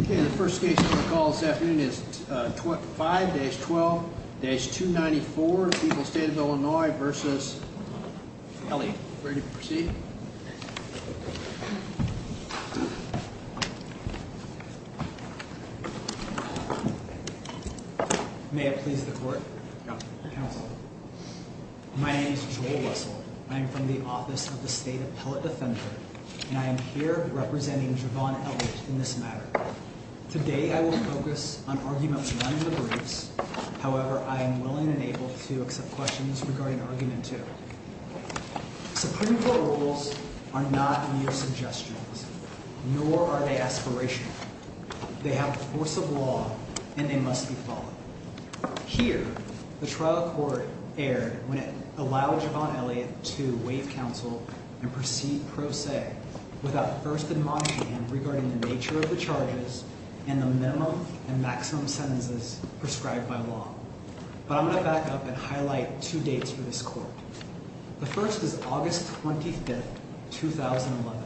Okay, the first case on the call this afternoon is 5-12-294 People's State of Illinois v. Elliot. Ready to proceed? May it please the court. Counsel. My name is Joel Russell. I am from the Office of the State Appellate Defender, and I am here representing Javon Ellis in this matter. Today I will focus on arguments none of the briefs. However, I am willing and able to accept questions regarding argument two. Supreme Court rules are not mere suggestions, nor are they aspirational. They have the force of law, and they must be followed. Here, the trial court erred when it allowed Javon Elliot to waive counsel and proceed pro se without first admonishing him regarding the nature of the charges and the minimum and maximum sentences prescribed by law. But I'm going to back up and highlight two dates for this court. The first is August 25, 2011.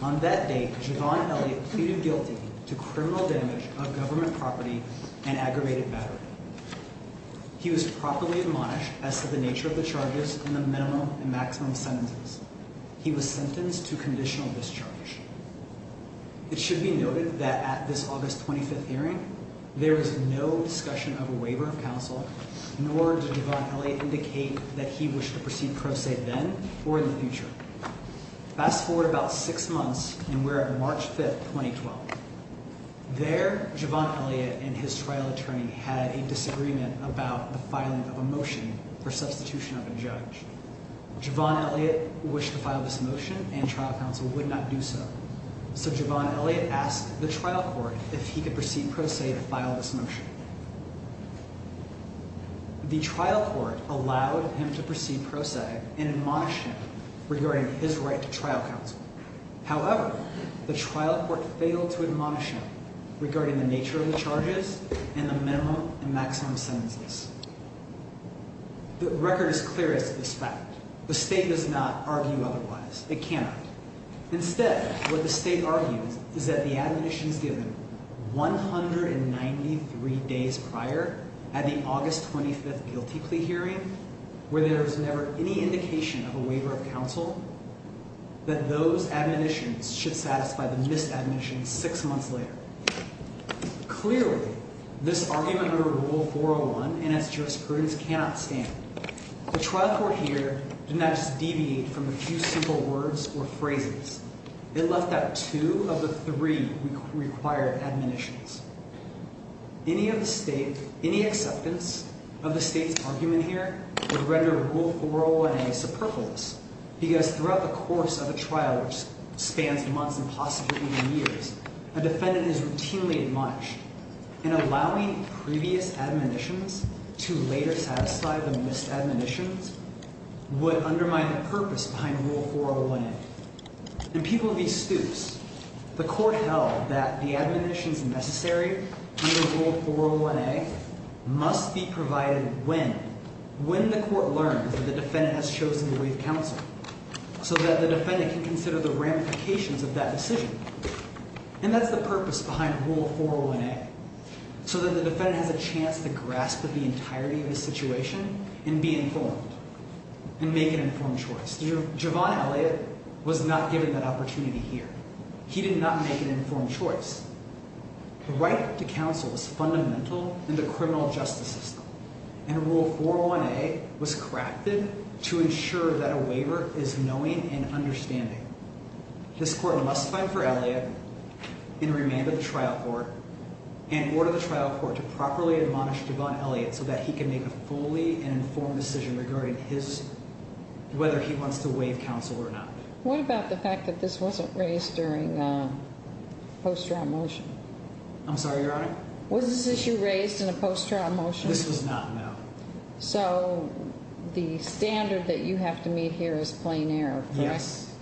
On that date, Javon Elliot pleaded guilty to criminal damage of government property and aggravated battery. He was properly admonished as to the nature of the charges and the minimum and maximum sentences. He was sentenced to conditional discharge. It should be noted that at this August 25 hearing, there was no discussion of a waiver of counsel, nor did Javon Elliot indicate that he wished to proceed pro se then or in the future. Fast forward about six months, and we're at March 5, 2012. There, Javon Elliot and his trial attorney had a disagreement about the filing of a motion for substitution of a judge. Javon Elliot wished to file this motion, and trial counsel would not do so. So Javon Elliot asked the trial court if he could proceed pro se to file this motion. The trial court allowed him to proceed pro se and admonished him regarding his right to trial counsel. However, the trial court failed to admonish him regarding the nature of the charges and the minimum and maximum sentences. The record is clear as to this fact. The state does not argue otherwise. It cannot. Instead, what the state argues is that the admonitions given 193 days prior at the August 25 guilty plea hearing, where there was never any indication of a waiver of counsel, that those admonitions should satisfy the misadmissions six months later. Clearly, this argument under Rule 401 and its jurisprudence cannot stand. The trial court here did not just deviate from a few simple words or phrases. It left out two of the three required admonitions. Any acceptance of the state's argument here would render Rule 401A superfluous, because throughout the course of a trial which spans months and possibly even years, a defendant is routinely admonished. And allowing previous admonitions to later satisfy the missed admonitions would undermine the purpose behind Rule 401A. In People v. Stoops, the court held that the admonitions necessary under Rule 401A must be provided when the court learns that the defendant has chosen to waive counsel, so that the defendant can consider the ramifications of that decision. And that's the purpose behind Rule 401A, so that the defendant has a chance to grasp the entirety of the situation and be informed and make an informed choice. Javon Elliott was not given that opportunity here. He did not make an informed choice. The right to counsel was fundamental in the criminal justice system, and Rule 401A was crafted to ensure that a waiver is knowing and understanding. This Court must find for Elliott, in remand of the trial court, and order the trial court to properly admonish Javon Elliott so that he can make a fully informed decision regarding whether he wants to waive counsel or not. What about the fact that this wasn't raised during a post-trial motion? I'm sorry, Your Honor? Was this issue raised in a post-trial motion? This was not, no. So, the standard that you have to meet here is plain error, correct? Yes.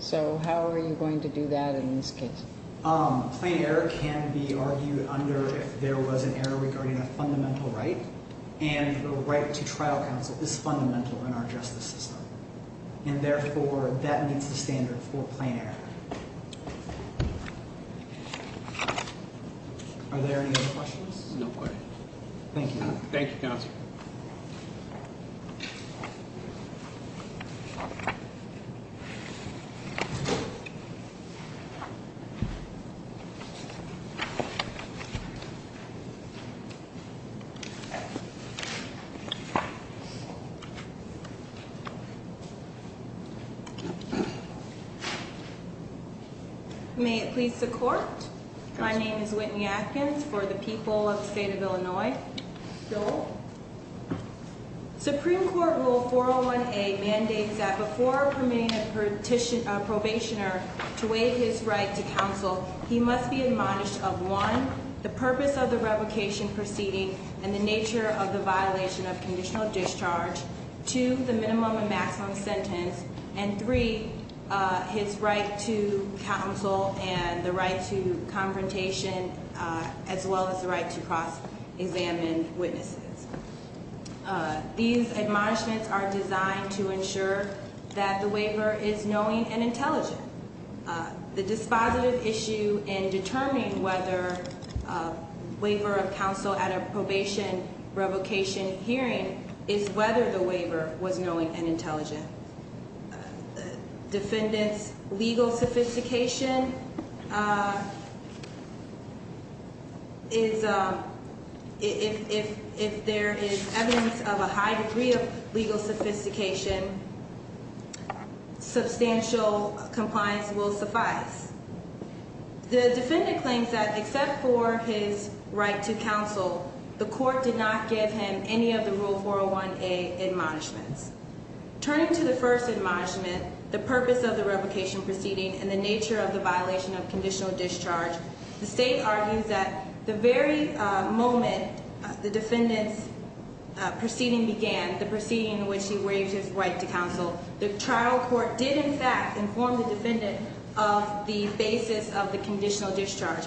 So, how are you going to do that in this case? Plain error can be argued under if there was an error regarding a fundamental right, and the right to trial counsel is fundamental in our justice system. And therefore, that meets the standard for plain error. Are there any other questions? No questions. Thank you. Thank you, Counselor. Thank you. May it please the Court. My name is Whitney Atkins for the people of the state of Illinois. So, Supreme Court Rule 401A mandates that before permitting a probationer to waive his right to counsel, he must be admonished of one, the purpose of the revocation proceeding and the nature of the violation of conditional discharge, two, the minimum and maximum sentence, and three, his right to counsel and the right to confrontation, as well as the right to cross-examine witnesses. These admonishments are designed to ensure that the waiver is knowing and intelligent. The dispositive issue in determining whether a waiver of counsel at a probation revocation hearing is whether the waiver was knowing and intelligent. Defendant's legal sophistication is, if there is evidence of a high degree of legal sophistication, substantial compliance will suffice. The defendant claims that except for his right to counsel, the court did not give him any of the Rule 401A admonishments. Turning to the first admonishment, the purpose of the revocation proceeding and the nature of the violation of conditional discharge, the state argues that the very moment the defendant's proceeding began, the proceeding in which he waives his right to counsel, the trial court did, in fact, inform the defendant of the basis of the conditional discharge.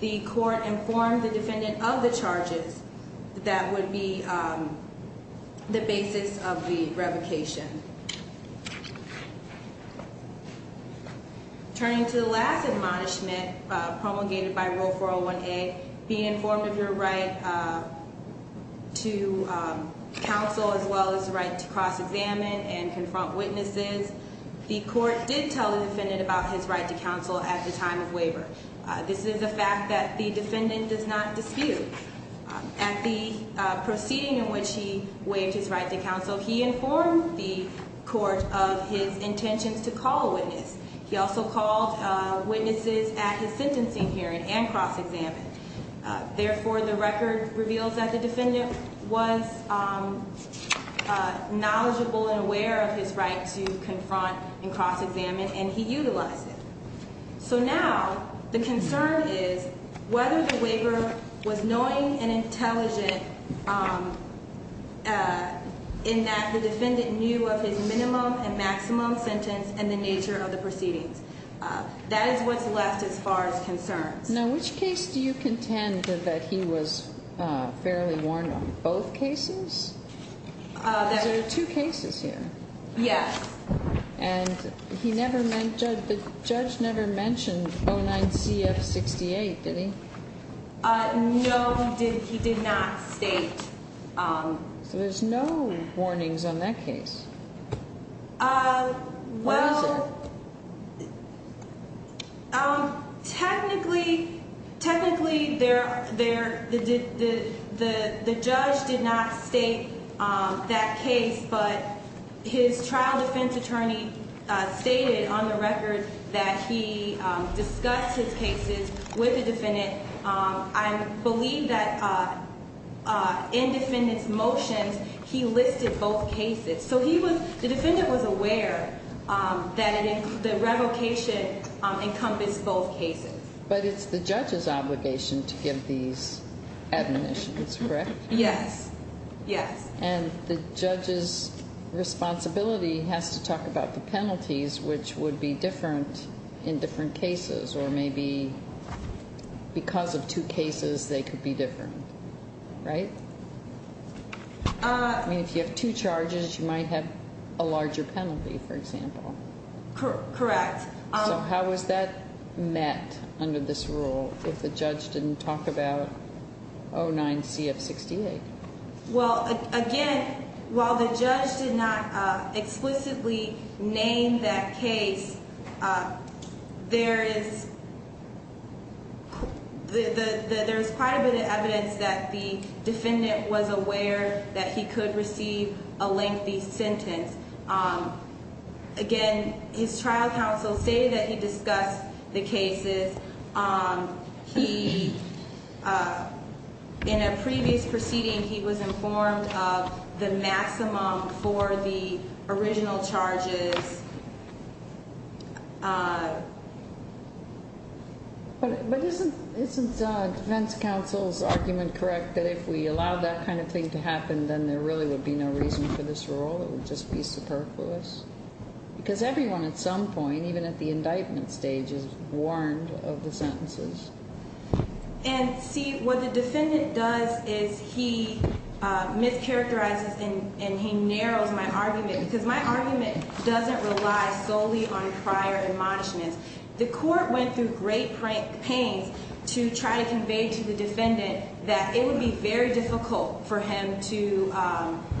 The court informed the defendant of the charges that would be the basis of the revocation. Turning to the last admonishment promulgated by Rule 401A, being informed of your right to counsel, as well as the right to cross-examine and confront witnesses, the court did tell the defendant about his right to counsel at the time of waiver. This is a fact that the defendant does not dispute. At the proceeding in which he waived his right to counsel, he informed the court of his intentions to call a witness. He also called witnesses at his sentencing hearing and cross-examined. Therefore, the record reveals that the defendant was knowledgeable and aware of his right to confront and cross-examine, and he utilized it. So now, the concern is whether the waiver was knowing and intelligent in that the defendant knew of his minimum and maximum sentence and the nature of the proceedings. That is what's left as far as concerns. Now, which case do you contend that he was fairly warned on? Both cases? There are two cases here. Yes. And the judge never mentioned 09CF68, did he? No, he did not state. So there's no warnings on that case. Why is that? Technically, the judge did not state that case, but his trial defense attorney stated on the record that he discussed his cases with the defendant. I believe that in defendant's motions, he listed both cases. So the defendant was aware that the revocation encompassed both cases. But it's the judge's obligation to give these admonitions, correct? Yes, yes. And the judge's responsibility has to talk about the penalties, which would be different in different cases, or maybe because of two cases, they could be different, right? I mean, if you have two charges, you might have a larger penalty, for example. Correct. So how was that met under this rule if the judge didn't talk about 09CF68? Well, again, while the judge did not explicitly name that case, there is quite a bit of evidence that the defendant was aware that he could receive a lengthy sentence. Again, his trial counsel stated that he discussed the cases. In a previous proceeding, he was informed of the maximum for the original charges. But isn't defense counsel's argument correct that if we allowed that kind of thing to happen, then there really would be no reason for this rule? It would just be superfluous? Because everyone at some point, even at the indictment stage, is warned of the sentences. And see, what the defendant does is he mischaracterizes and he narrows my argument, because my argument doesn't rely solely on prior admonishments. The court went through great pains to try to convey to the defendant that it would be very difficult for him to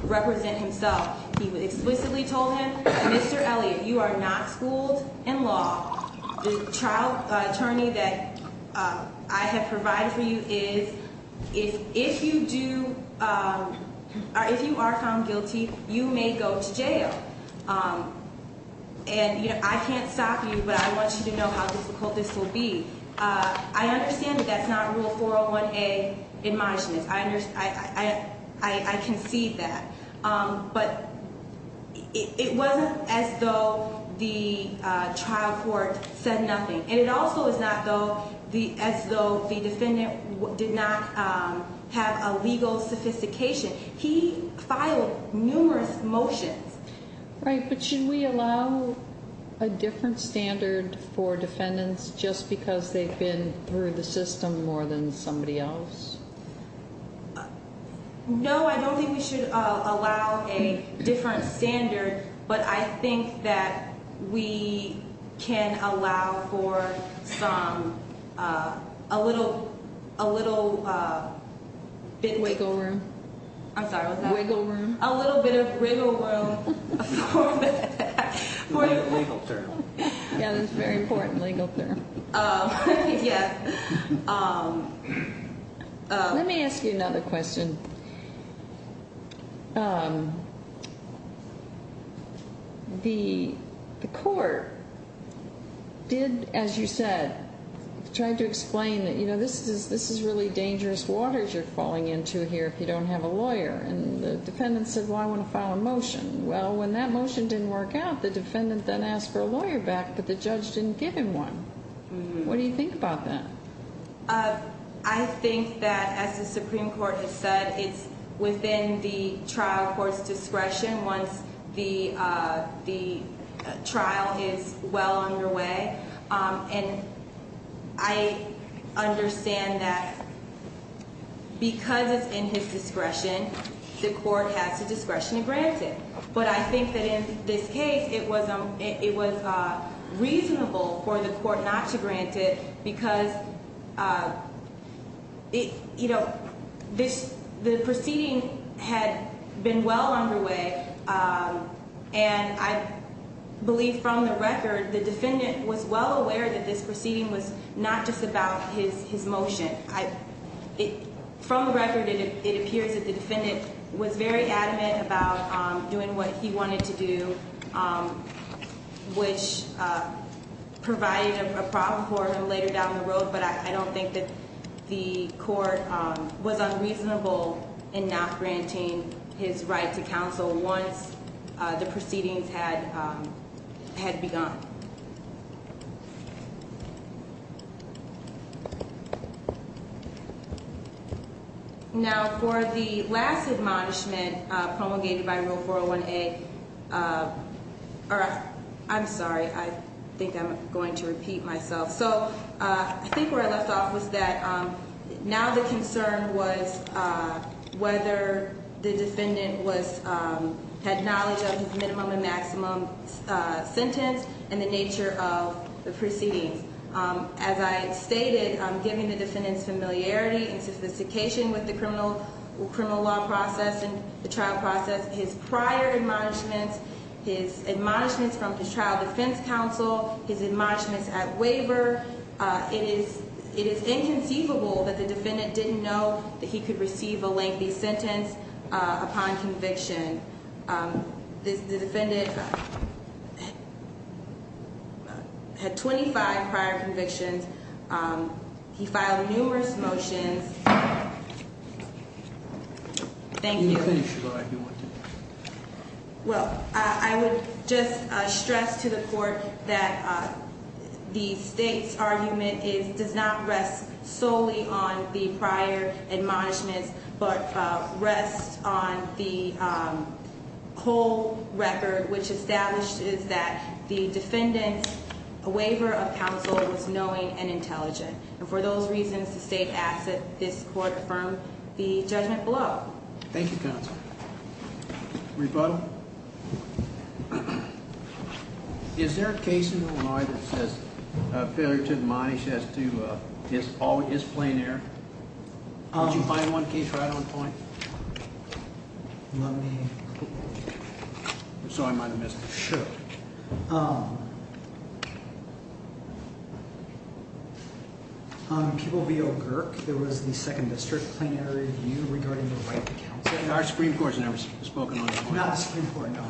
represent himself. He explicitly told him, Mr. Elliott, you are not schooled in law. The trial attorney that I have provided for you is, if you are found guilty, you may go to jail. And I can't stop you, but I want you to know how difficult this will be. I understand that that's not Rule 401A admonishments. I concede that. But it wasn't as though the trial court said nothing. And it also is not as though the defendant did not have a legal sophistication. He filed numerous motions. Right, but should we allow a different standard for defendants just because they've been through the system more than somebody else? No, I don't think we should allow a different standard, but I think that we can allow for a little bit of wiggle room. Wiggle room? I'm sorry, what was that? Wiggle room? A little bit of wiggle room for the- Legal term. Yeah, that's a very important legal term. Yes. Let me ask you another question. The court did, as you said, tried to explain that, you know, this is really dangerous waters you're falling into here if you don't have a lawyer. And the defendant said, well, I want to file a motion. Well, when that motion didn't work out, the defendant then asked for a lawyer back, but the judge didn't give him one. What do you think about that? I think that, as the Supreme Court has said, it's within the trial court's discretion once the trial is well underway. And I understand that because it's in his discretion, the court has the discretion to grant it. But I think that in this case, it was reasonable for the court not to grant it because, you know, the proceeding had been well underway. And I believe from the record, the defendant was well aware that this proceeding was not just about his motion. From the record, it appears that the defendant was very adamant about doing what he wanted to do, which provided a problem for him later down the road. But I don't think that the court was unreasonable in not granting his right to counsel once the proceedings had begun. Now, for the last admonishment promulgated by Rule 401A, or I'm sorry, I think I'm going to repeat myself. So I think where I left off was that now the concern was whether the defendant had knowledge of his minimum and maximum sentence and the nature of the proceedings. As I stated, given the defendant's familiarity and sophistication with the criminal law process and the trial process, his prior admonishments, his admonishments from his trial defense counsel, his admonishments at waiver, it is inconceivable that the defendant didn't know that he could receive a lengthy sentence upon conviction. The defendant had 25 prior convictions. He filed numerous motions. Thank you. Well, I would just stress to the court that the state's argument does not rest solely on the prior admonishments, but rests on the whole record, which establishes that the defendant's waiver of counsel was knowing and intelligent. And for those reasons, the state asks that this court affirm the judgment below. Thank you, counsel. Rebuttal? Is there a case in Illinois that says a failure to admonish as to his plain error? Could you find one case right on point? I'm sorry, I might have missed it. Sure. On People v. O'Gurk, there was the second district plain error review regarding the right to counsel. Our Supreme Court has never spoken on this point. Not the Supreme Court, no.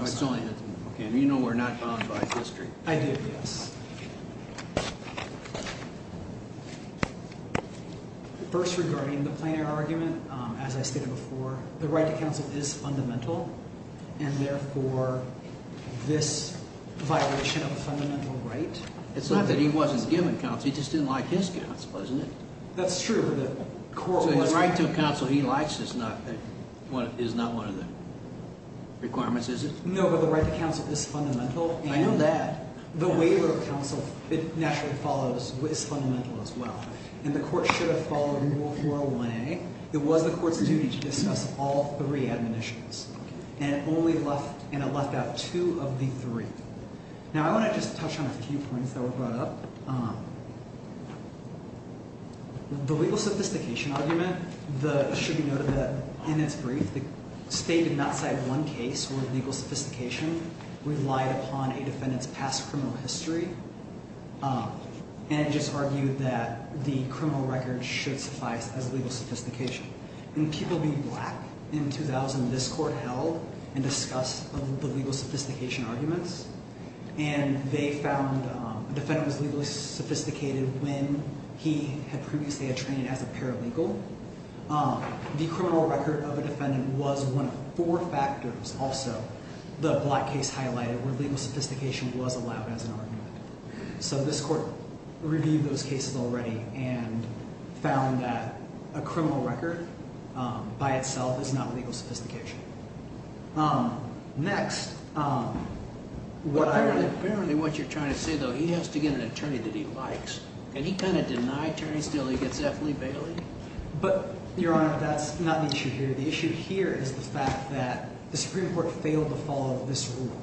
Okay, and you know we're not bound by history. I do, yes. First, regarding the plain error argument, as I stated before, the right to counsel is fundamental, and therefore this violation of a fundamental right. It's not that he wasn't given counsel. He just didn't like his counsel, isn't it? That's true. So the right to counsel he likes is not one of the requirements, is it? No, but the right to counsel is fundamental. I know that. The waiver of counsel, it naturally follows, is fundamental as well. And the court should have followed Rule 401A. It was the court's duty to discuss all three admonitions, and it left out two of the three. Now, I want to just touch on a few points that were brought up. The legal sophistication argument, it should be noted that in its brief, the state did not cite one case where legal sophistication relied upon a defendant's past criminal history, and it just argued that the criminal record should suffice as legal sophistication. In People v. Black in 2000, this court held and discussed the legal sophistication arguments, and they found a defendant was legally sophisticated when he had previously been trained as a paralegal. The criminal record of a defendant was one of four factors, also, the Black case highlighted, where legal sophistication was allowed as an argument. So this court reviewed those cases already and found that a criminal record by itself is not legal sophistication. Next, what I— Apparently what you're trying to say, though, he has to get an attorney that he likes, and he kind of denied attorneys until he gets Ethel E. Bailey. But, Your Honor, that's not the issue here. The issue here is the fact that the Supreme Court failed to follow this rule,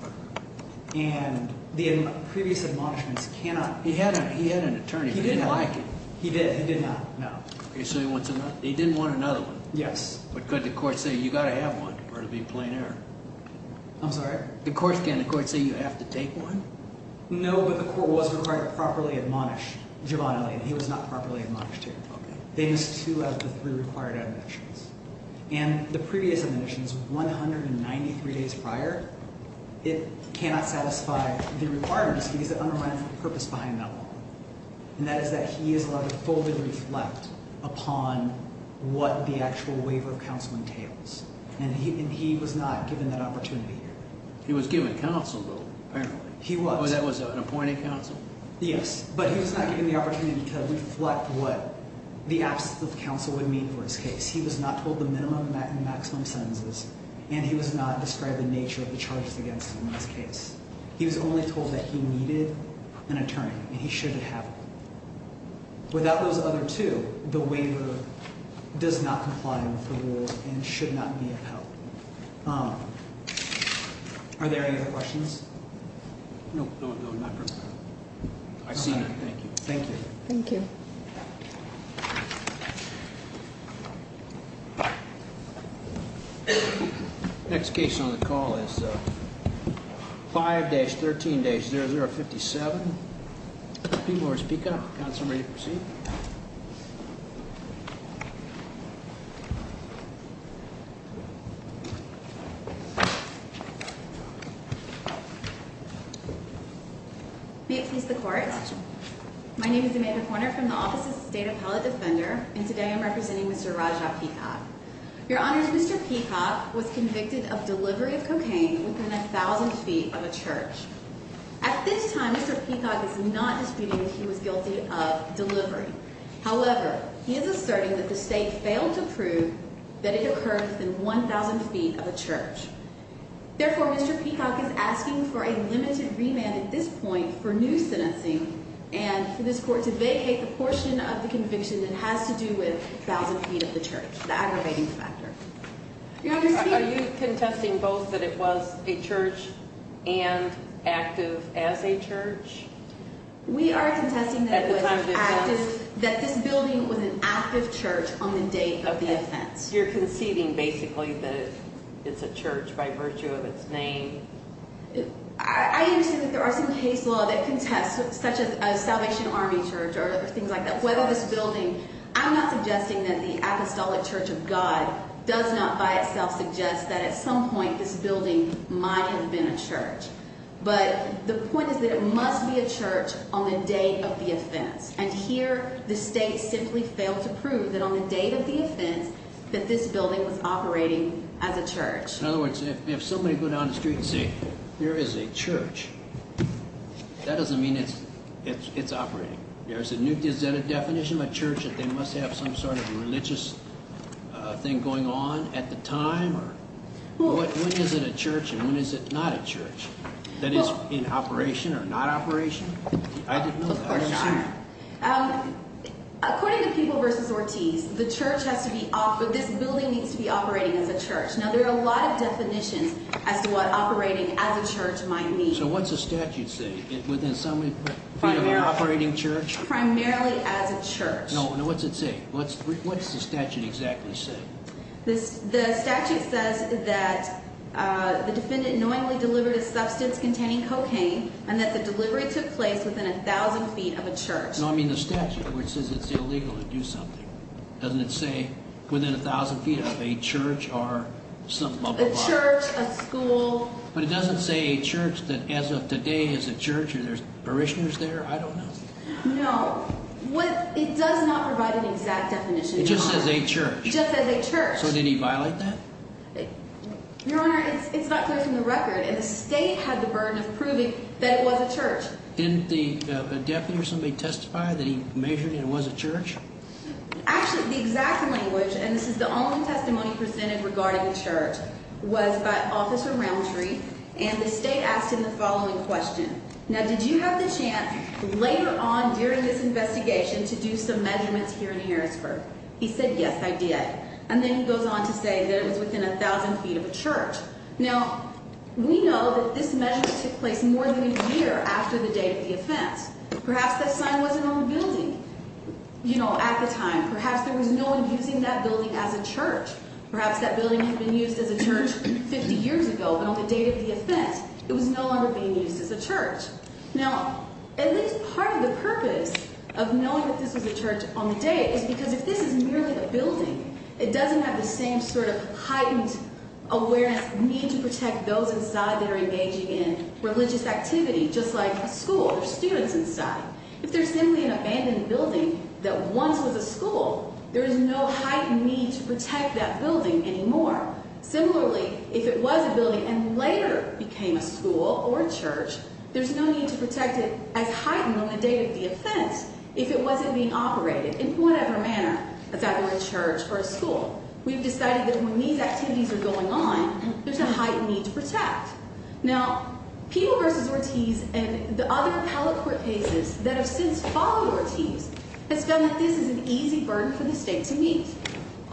and the previous admonishments cannot— He had an attorney. He didn't like it. He did. He did not. No. So he didn't want another one. Yes. But could the court say, you've got to have one or it would be a plain error? I'm sorry? The court can. The court can say you have to take one? No, but the court was required to properly admonish Giovanni Elena. He was not properly admonished here. Okay. It is two out of the three required admonitions, and the previous admonitions, 193 days prior, it cannot satisfy the requirements because it undermines the purpose behind that one, and that is that he is allowed to fully reflect upon what the actual waiver of counsel entails, and he was not given that opportunity here. He was given counsel, though, apparently. He was. That was an appointed counsel? Yes, but he was not given the opportunity to reflect what the absence of counsel would mean for his case. He was not told the minimum and maximum sentences, and he was not described the nature of the charges against him in this case. He was only told that he needed an attorney and he should have one. Without those other two, the waiver does not comply with the rules and should not be upheld. Are there any other questions? No, not for now. I see none. Thank you. Thank you. Thank you. The next case on the call is 5-13-0057, P. Morris Pica. Counsel, are you ready to proceed? May it please the Court. My name is Amanda Corner from the Office of the State Appellate Defender, and today I'm representing Mr. Rajah Pica. Your Honors, Mr. Pica was convicted of delivery of cocaine within 1,000 feet of a church. At this time, Mr. Pica is not disputing that he was guilty of delivery. However, he is asserting that the State failed to prove that it occurred within 1,000 feet of a church. Therefore, Mr. Pica is asking for a limited remand at this point for new sentencing and for this Court to vacate the portion of the conviction that has to do with 1,000 feet of the church, the aggravating factor. Are you contesting both that it was a church and active as a church? We are contesting that this building was an active church on the date of the offense. You're conceding basically that it's a church by virtue of its name? I understand that there are some case law that contests such as Salvation Army Church or things like that. Whether this building, I'm not suggesting that the Apostolic Church of God does not by itself suggest that at some point this building might have been a church. But the point is that it must be a church on the date of the offense. And here the State simply failed to prove that on the date of the offense that this building was operating as a church. In other words, if somebody would go down the street and say there is a church, that doesn't mean it's operating. Is that a definition of a church, that they must have some sort of religious thing going on at the time? When is it a church and when is it not a church? That is, in operation or not operation? I didn't know that. I didn't see that. According to People v. Ortiz, this building needs to be operating as a church. Now there are a lot of definitions as to what operating as a church might mean. So what does the statute say? Would there be an operating church? Primarily as a church. Now what does it say? What does the statute exactly say? The statute says that the defendant knowingly delivered a substance containing cocaine and that the delivery took place within 1,000 feet of a church. No, I mean the statute, which says it's illegal to do something. Doesn't it say within 1,000 feet of a church or something? A church, a school. But it doesn't say a church, that as of today is a church. Are there parishioners there? I don't know. No. It does not provide an exact definition. It just says a church. It just says a church. So did he violate that? Your Honor, it's not clear from the record. And the state had the burden of proving that it was a church. Didn't the deputy or somebody testify that he measured and it was a church? Actually, the exact language, and this is the only testimony presented regarding the church, was by Officer Ramtree. And the state asked him the following question. Now did you have the chance later on during this investigation to do some measurements here in Harrisburg? He said, yes, I did. And then he goes on to say that it was within 1,000 feet of a church. Now, we know that this measurement took place more than a year after the date of the offense. Perhaps that sign wasn't on the building, you know, at the time. Perhaps there was no one using that building as a church. Perhaps that building had been used as a church 50 years ago, but on the date of the offense it was no longer being used as a church. Now, at least part of the purpose of knowing that this was a church on the date is because if this is merely a building, it doesn't have the same sort of heightened awareness, need to protect those inside that are engaging in religious activity, just like a school or students inside. If there's simply an abandoned building that once was a school, there is no heightened need to protect that building anymore. Similarly, if it was a building and later became a school or a church, there's no need to protect it as heightened on the date of the offense if it wasn't being operated in whatever manner, if that were a church or a school. We've decided that when these activities are going on, there's a heightened need to protect. Now, People v. Ortiz and the other appellate court cases that have since followed Ortiz have found that this is an easy burden for the state to meet.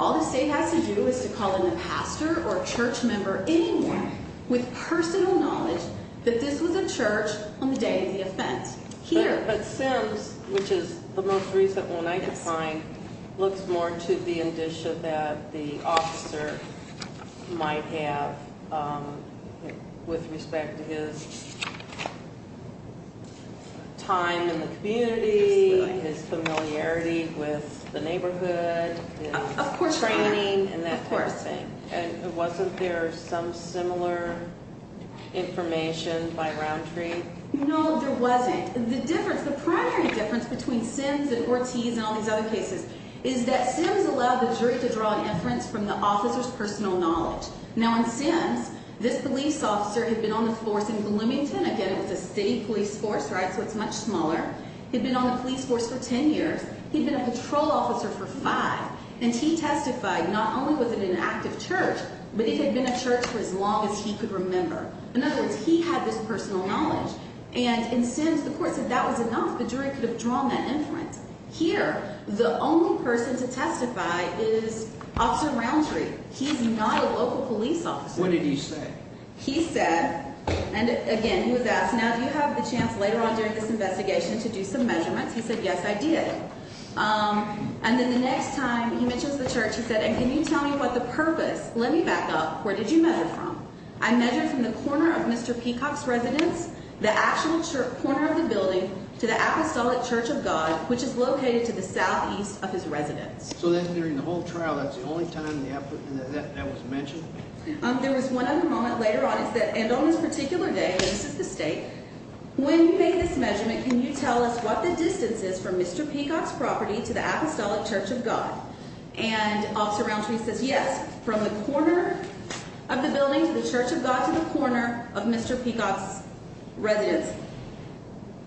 All the state has to do is to call in a pastor or a church member, anyone with personal knowledge, that this was a church on the day of the offense. Here. But Sims, which is the most recent one I could find, looks more to the indicia that the officer might have with respect to his time in the community, his familiarity with the neighborhood, his training, and that kind of thing. And wasn't there some similar information by Roundtree? No, there wasn't. The difference, the primary difference between Sims and Ortiz and all these other cases is that Sims allowed the jury to draw inference from the officer's personal knowledge. Now, in Sims, this police officer had been on the force in Bloomington. Again, it was a state police force, right, so it's much smaller. He'd been on the police force for 10 years. He'd been a patrol officer for five, and he testified not only was it an active church, but it had been a church for as long as he could remember. In other words, he had this personal knowledge, and in Sims, the court said that was enough. The jury could have drawn that inference. Here, the only person to testify is Officer Roundtree. He's not a local police officer. What did he say? He said, and again, he was asked, now do you have the chance later on during this investigation to do some measurements? He said, yes, I did. And then the next time he mentions the church, he said, and can you tell me what the purpose, let me back up, where did you measure from? I measured from the corner of Mr. Peacock's residence, the actual corner of the building, to the Apostolic Church of God, which is located to the southeast of his residence. So then during the whole trial, that's the only time that was mentioned? There was one other moment later on, and on this particular day, and this is the state, when you made this measurement, can you tell us what the distance is from Mr. Peacock's property to the Apostolic Church of God? And Officer Roundtree says, yes, from the corner of the building to the Church of God to the corner of Mr. Peacock's residence.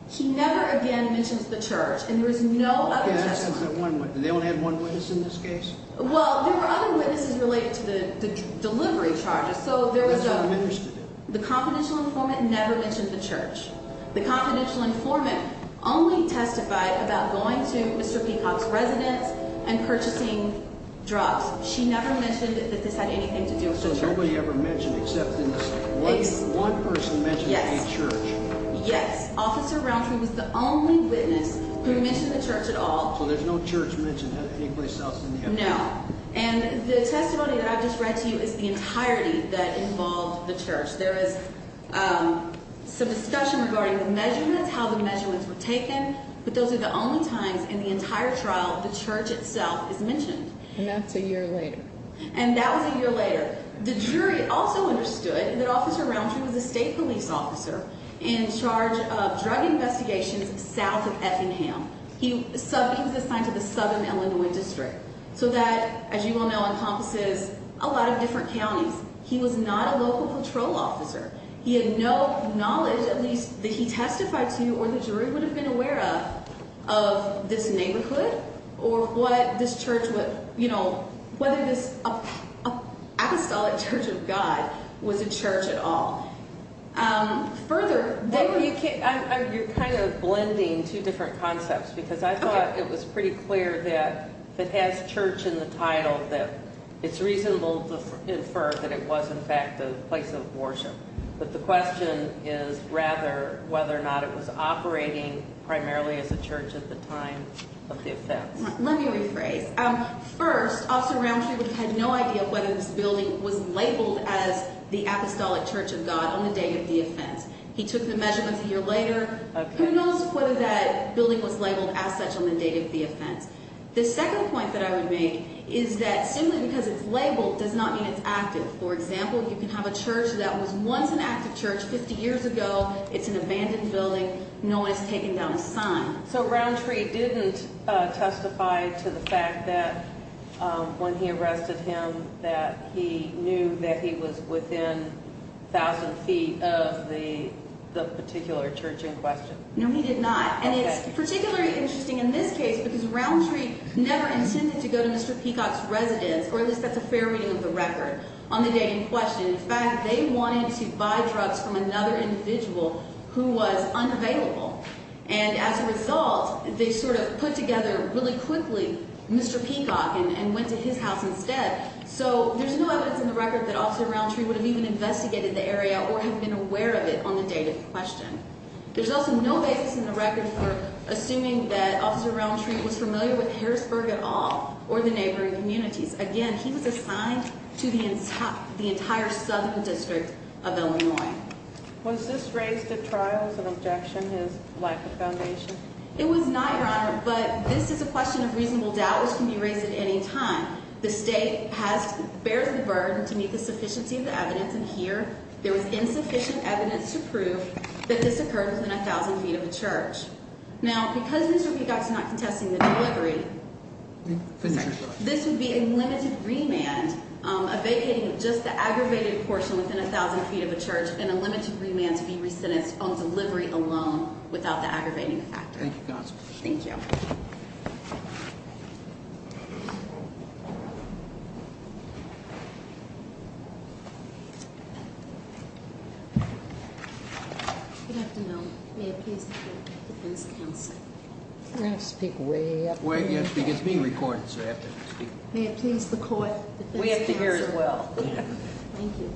He never again mentions the church, and there was no other testimony. They only had one witness in this case? Well, there were other witnesses related to the delivery charges, so there was a... Which one minister did? The confidential informant never mentioned the church. The confidential informant only testified about going to Mr. Peacock's residence and purchasing drugs. She never mentioned that this had anything to do with the church. So nobody ever mentioned except in this case, one person mentioned any church? Yes. Yes. Officer Roundtree was the only witness who mentioned the church at all. So there's no church mentioned at any place south of Effingham? No. And the testimony that I just read to you is the entirety that involved the church. There is some discussion regarding the measurements, how the measurements were taken, but those are the only times in the entire trial the church itself is mentioned. And that's a year later. And that was a year later. The jury also understood that Officer Roundtree was a state police officer in charge of drug investigations south of Effingham. He was assigned to the southern Illinois district. So that, as you all know, encompasses a lot of different counties. He was not a local patrol officer. He had no knowledge, at least, that he testified to or the jury would have been aware of this neighborhood or what this church would, you know, whether this apostolic church of God was a church at all. Further, where were you? You're kind of blending two different concepts because I thought it was pretty clear that if it has church in the title that it's reasonable to infer that it was, in fact, a place of worship. But the question is rather whether or not it was operating primarily as a church at the time of the offense. Let me rephrase. First, Officer Roundtree had no idea whether this building was labeled as the apostolic church of God on the date of the offense. He took the measurements a year later. Who knows whether that building was labeled as such on the date of the offense? The second point that I would make is that simply because it's labeled does not mean it's active. For example, you can have a church that was once an active church 50 years ago. It's an abandoned building. No one has taken down a sign. So Roundtree didn't testify to the fact that when he arrested him that he knew that he was within 1,000 feet of the particular church in question. No, he did not. And it's particularly interesting in this case because Roundtree never intended to go to Mr. Peacock's residence, or at least that's a fair reading of the record, on the day in question. In fact, they wanted to buy drugs from another individual who was unavailable. And as a result, they sort of put together really quickly Mr. Peacock and went to his house instead. So there's no evidence in the record that Officer Roundtree would have even investigated the area or have been aware of it on the day in question. There's also no evidence in the record for assuming that Officer Roundtree was familiar with Harrisburg at all or the neighboring communities. Again, he was assigned to the entire southern district of Illinois. Was this raised at trial as an objection to his lack of foundation? It was not, Your Honor, but this is a question of reasonable doubt which can be raised at any time. The state bears the burden to meet the sufficiency of the evidence, and here there was insufficient evidence to prove that this occurred within 1,000 feet of a church. Now, because Mr. Peacock's not contesting the delivery, this would be a limited remand, a vacating of just the aggravated portion within 1,000 feet of a church and a limited remand to be re-sentenced on delivery alone without the aggravating factor. Thank you, counsel. Thank you. Thank you. Good afternoon. May it please the defense counsel. We're going to have to speak way up here. It's being recorded, so I have to speak. May it please the court, defense counsel. We have to hear as well. Thank you.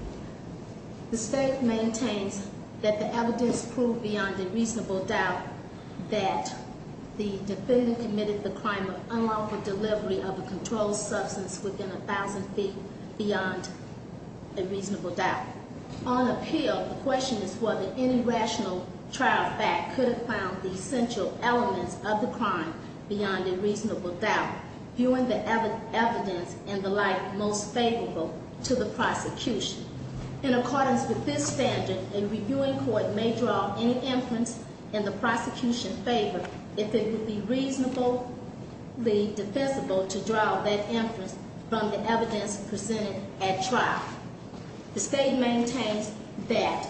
The state maintains that the evidence proved beyond a reasonable doubt that the defendant committed the crime of unlawful delivery of a controlled substance within 1,000 feet beyond a reasonable doubt. On appeal, the question is whether any rational trial fact could have found the essential elements of the crime beyond a reasonable doubt, viewing the evidence and the light most favorable to the prosecution. In accordance with this standard, a reviewing court may draw any inference in the prosecution's favor if it would be reasonably defensible to draw that inference from the evidence presented at trial. The state maintains that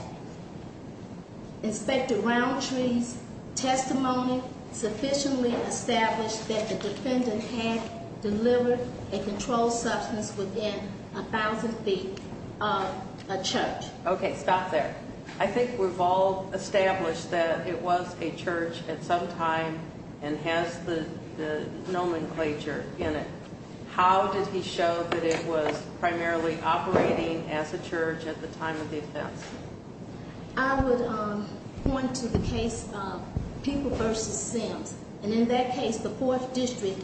Inspector Roundtree's testimony sufficiently established that the defendant had delivered a controlled substance within 1,000 feet of a church. Okay. Stop there. I think we've all established that it was a church at some time and has the nomenclature in it. How did he show that it was primarily operating as a church at the time of the offense? I would point to the case of People v. Sims. And in that case, the Fourth District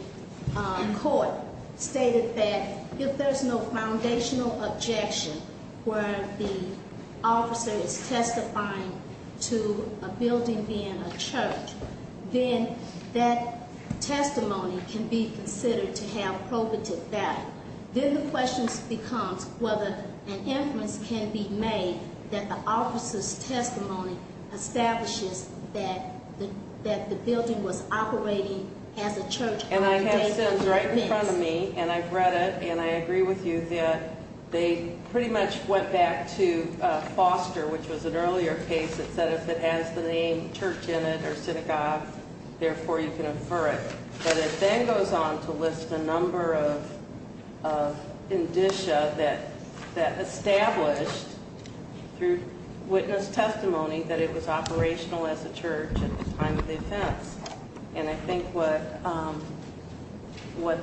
Court stated that if there's no foundational objection where the officer is testifying to a building being a church, then that testimony can be considered to have probative value. Then the question becomes whether an inference can be made that the officer's testimony establishes that the building was operating as a church. And I have Sims right in front of me, and I've read it, and I agree with you that they pretty much went back to Foster, which was an earlier case that said if it has the name church in it or synagogue, therefore you can infer it. But it then goes on to list a number of indicia that established through witness testimony that it was operational as a church at the time of the offense. And I think what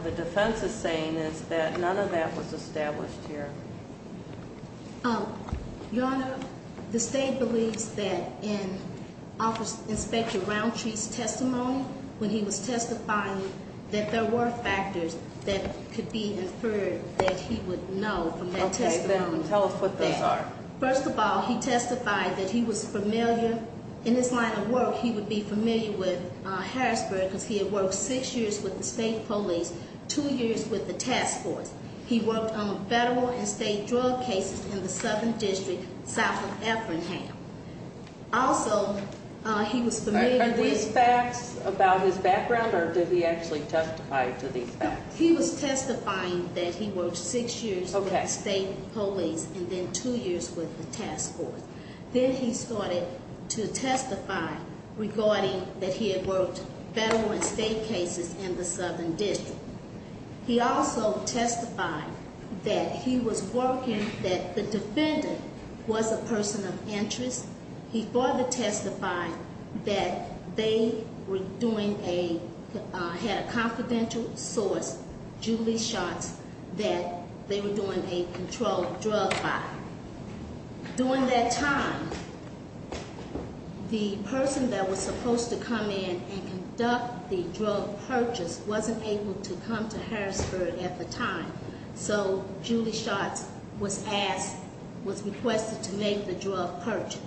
the defense is saying is that none of that was established here. Your Honor, the state believes that in Inspector Roundtree's testimony, when he was testifying, that there were factors that could be inferred that he would know from that testimony. Okay, then tell us what those are. First of all, he testified that he was familiar, in his line of work, he would be familiar with Harrisburg because he had worked six years with the state police, two years with the task force. He worked on federal and state drug cases in the southern district, south of Effingham. Also, he was familiar- Are these facts about his background, or did he actually testify to these facts? He was testifying that he worked six years with the state police, and then two years with the task force. Then he started to testify regarding that he had worked federal and state cases in the southern district. He also testified that he was working, that the defendant was a person of interest. He further testified that they were doing a, had a confidential source, Julie Schatz, that they were doing a controlled drug buy. During that time, the person that was supposed to come in and come to Harrisburg at the time. So, Julie Schatz was asked, was requested to make the drug purchase.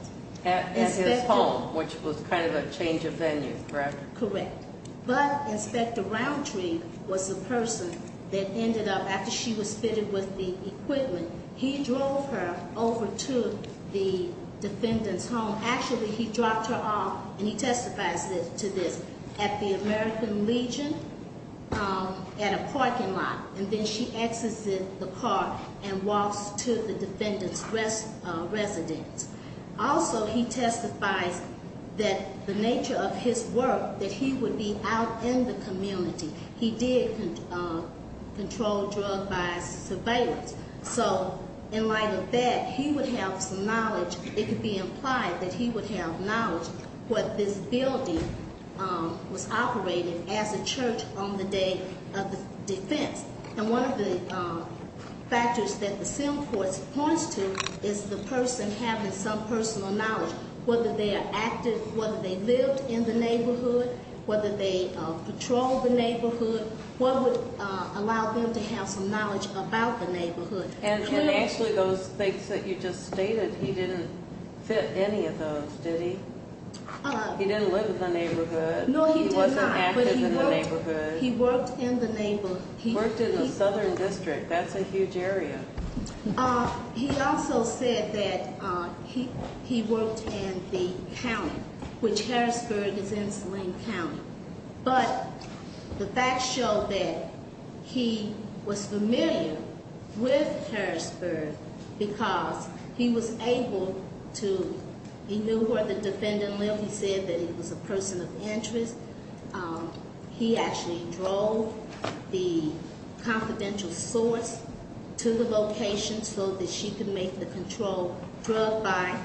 At his home, which was kind of a change of venue, correct? Correct. But, Inspector Roundtree was the person that ended up, after she was fitted with the equipment, he drove her over to the defendant's home. Actually, he dropped her off, and he testifies to this, at the American Legion, at a parking lot. And then she exits the car and walks to the defendant's residence. Also, he testifies that the nature of his work, that he would be out in the community. He did control drugs by surveillance. So, in light of that, he would have some knowledge. It could be implied that he would have knowledge. What this building was operating as a church on the day of the defense. And one of the factors that the sim court points to is the person having some personal knowledge. Whether they are active, whether they lived in the neighborhood, whether they patrolled the neighborhood. What would allow them to have some knowledge about the neighborhood? And actually, those things that you just stated, he didn't fit any of those, did he? He didn't live in the neighborhood. No, he did not. He wasn't active in the neighborhood. He worked in the neighborhood. He worked in the southern district. That's a huge area. He also said that he worked in the county, which Harrisburg is in Saline County. But the facts show that he was familiar with Harrisburg because he was able to, he knew where the defendant lived. He said that he was a person of interest. He actually drove the confidential source to the location so that she could make the control drug by.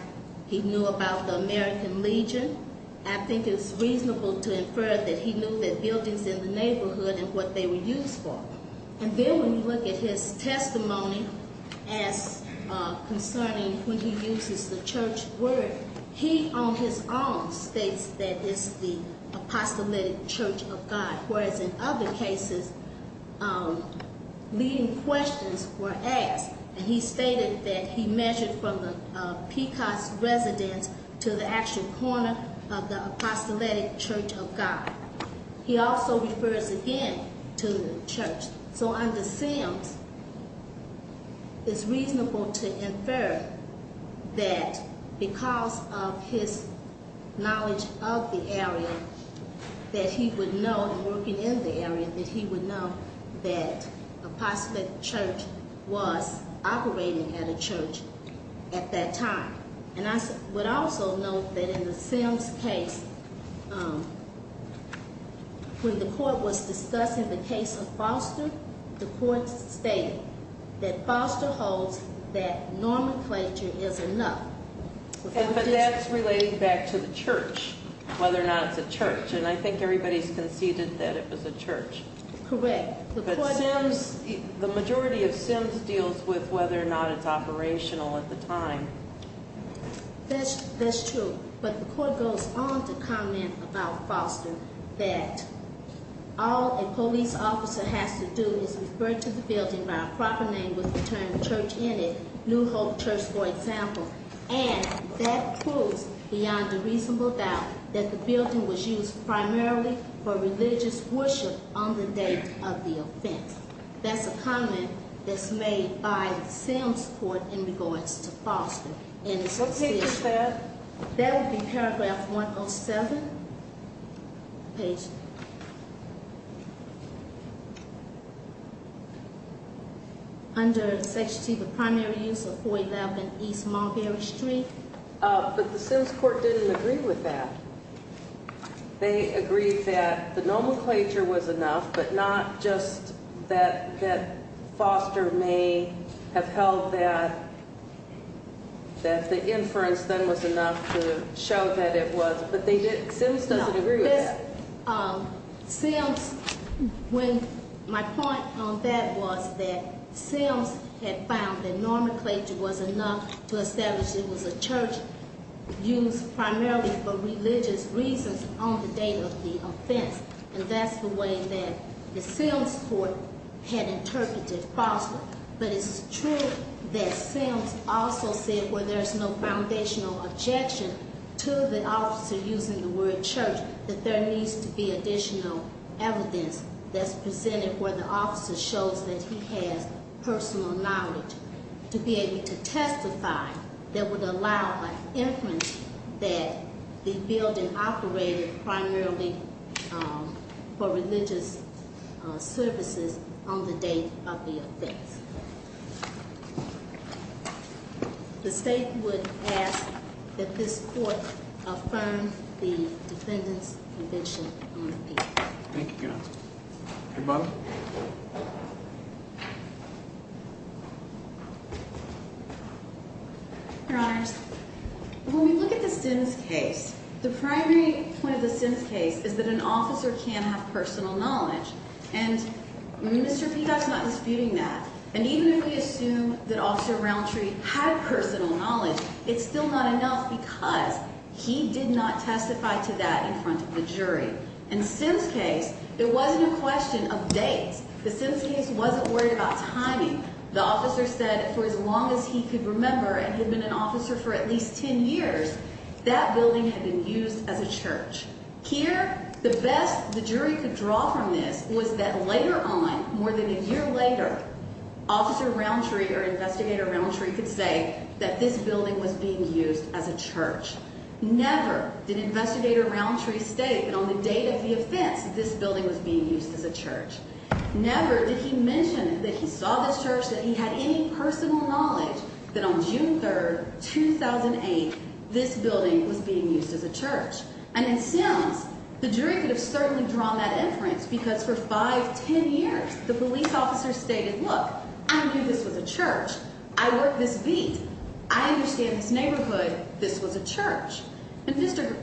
He knew about the American Legion. I think it's reasonable to infer that he knew the buildings in the neighborhood and what they were used for. And then when you look at his testimony as concerning when he uses the church word, he on his own states that it's the apostolic church of God. Whereas in other cases, leading questions were asked. And he stated that he measured from the Pecos residence to the actual corner of the apostolic church of God. He also refers again to the church. So under Sims, it's reasonable to infer that because of his knowledge of the area, that he would know, working in the area, that he would know that apostolic church was operating at a church at that time. And I would also note that in the Sims case, when the court was discussing the case of Foster, the court stated that Foster holds that nomenclature is enough. But that's relating back to the church, whether or not it's a church. And I think everybody's conceded that it was a church. Correct. The majority of Sims deals with whether or not it's operational at the time. That's true. But the court goes on to comment about Foster that all a police officer has to do is refer to the building by a proper name with the term church in it, New Hope Church, for example. And that proves beyond a reasonable doubt that the building was used primarily for religious worship on the day of the offense. That's a comment that's made by Sims court in regards to Foster. What page is that? Page. Under Section 2, the primary use of 411 East Mulberry Street. But the Sims court didn't agree with that. They agreed that the nomenclature was enough, but not just that Foster may have held that the inference then was enough to show that it was. But Sims doesn't agree with that. Sims, when my point on that was that Sims had found that nomenclature was enough to establish it was a church used primarily for religious reasons on the day of the offense. And that's the way that the Sims court had interpreted Foster. But it's true that Sims also said where there's no foundational objection to the officer using the word church that there needs to be additional evidence that's presented where the officer shows that he has personal knowledge to be able to testify that would allow an inference that the building operated primarily for religious services on the day of the offense. The state would ask that this court affirm the defendant's invention. Thank you. Your Honor. When we look at the Sims case, the primary point of the Sims case is that an officer can have personal knowledge, and Mr. Peacock's not disputing that. And even if we assume that Officer Roundtree had personal knowledge, it's still not enough because he did not testify to that in front of the jury. In Sims case, it wasn't a question of dates. The Sims case wasn't worried about timing. The officer said for as long as he could remember and had been an officer for at least 10 years, that building had been used as a church. Here, the best the jury could draw from this was that later on, more than a year later, Officer Roundtree or Investigator Roundtree could say that this building was being used as a church. Never did Investigator Roundtree state that on the date of the offense, this building was being used as a church. Never did he mention that he saw this church, that he had any personal knowledge that on June 3rd, 2008, this building was being used as a church. And in Sims, the jury could have certainly drawn that inference because for 5, 10 years, the police officer stated, look, I knew this was a church. I worked this beat. I understand this neighborhood. This was a church. And Mr.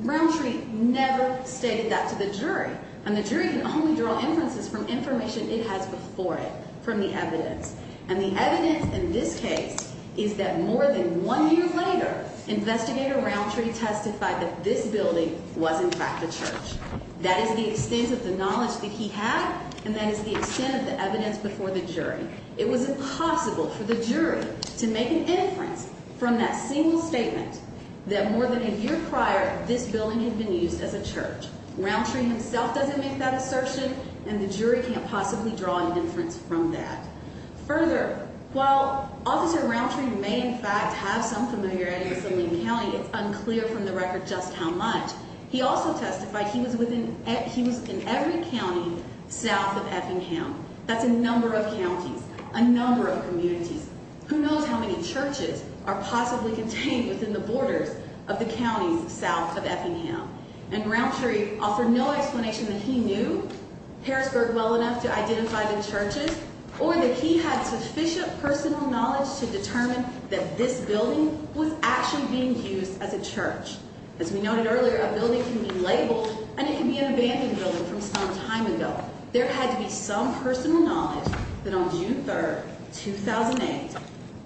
Roundtree never stated that to the jury. And the jury can only draw inferences from information it has before it, from the evidence. And the evidence in this case is that more than one year later, Investigator Roundtree testified that this building was in fact a church. That is the extent of the knowledge that he had, and that is the extent of the evidence before the jury. It was impossible for the jury to make an inference from that single statement that more than a year prior, this building had been used as a church. Roundtree himself doesn't make that assertion, and the jury can't possibly draw an inference from that. Further, while Officer Roundtree may in fact have some familiarity with Slimming County, it's unclear from the record just how much. He also testified he was in every county south of Effingham. That's a number of counties, a number of communities. Who knows how many churches are possibly contained within the borders of the counties south of Effingham. And Roundtree offered no explanation that he knew Harrisburg well enough to identify the churches, or that he had sufficient personal knowledge to determine that this building was actually being used as a church. As we noted earlier, a building can be labeled, and it can be an abandoned building from some time ago. There had to be some personal knowledge that on June 3rd, 2008,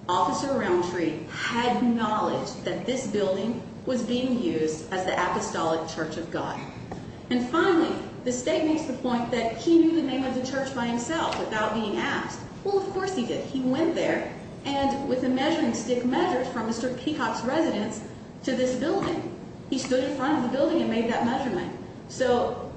Officer Roundtree had knowledge that this building was being used as the Apostolic Church of God. And finally, the state makes the point that he knew the name of the church by himself without being asked. Well, of course he did. He went there, and with a measuring stick, measured from Mr. Peacock's residence to this building. He stood in front of the building and made that measurement. So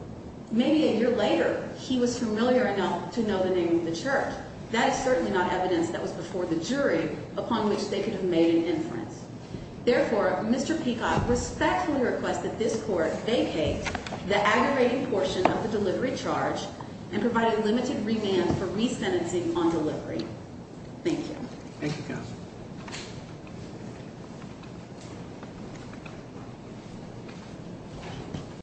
maybe a year later, he was familiar enough to know the name of the church. That is certainly not evidence that was before the jury upon which they could have made an inference. Therefore, Mr. Peacock respectfully requests that this court vacate the aggravating portion of the delivery charge and provide a limited remand for resentencing on delivery. Thank you, Counsel.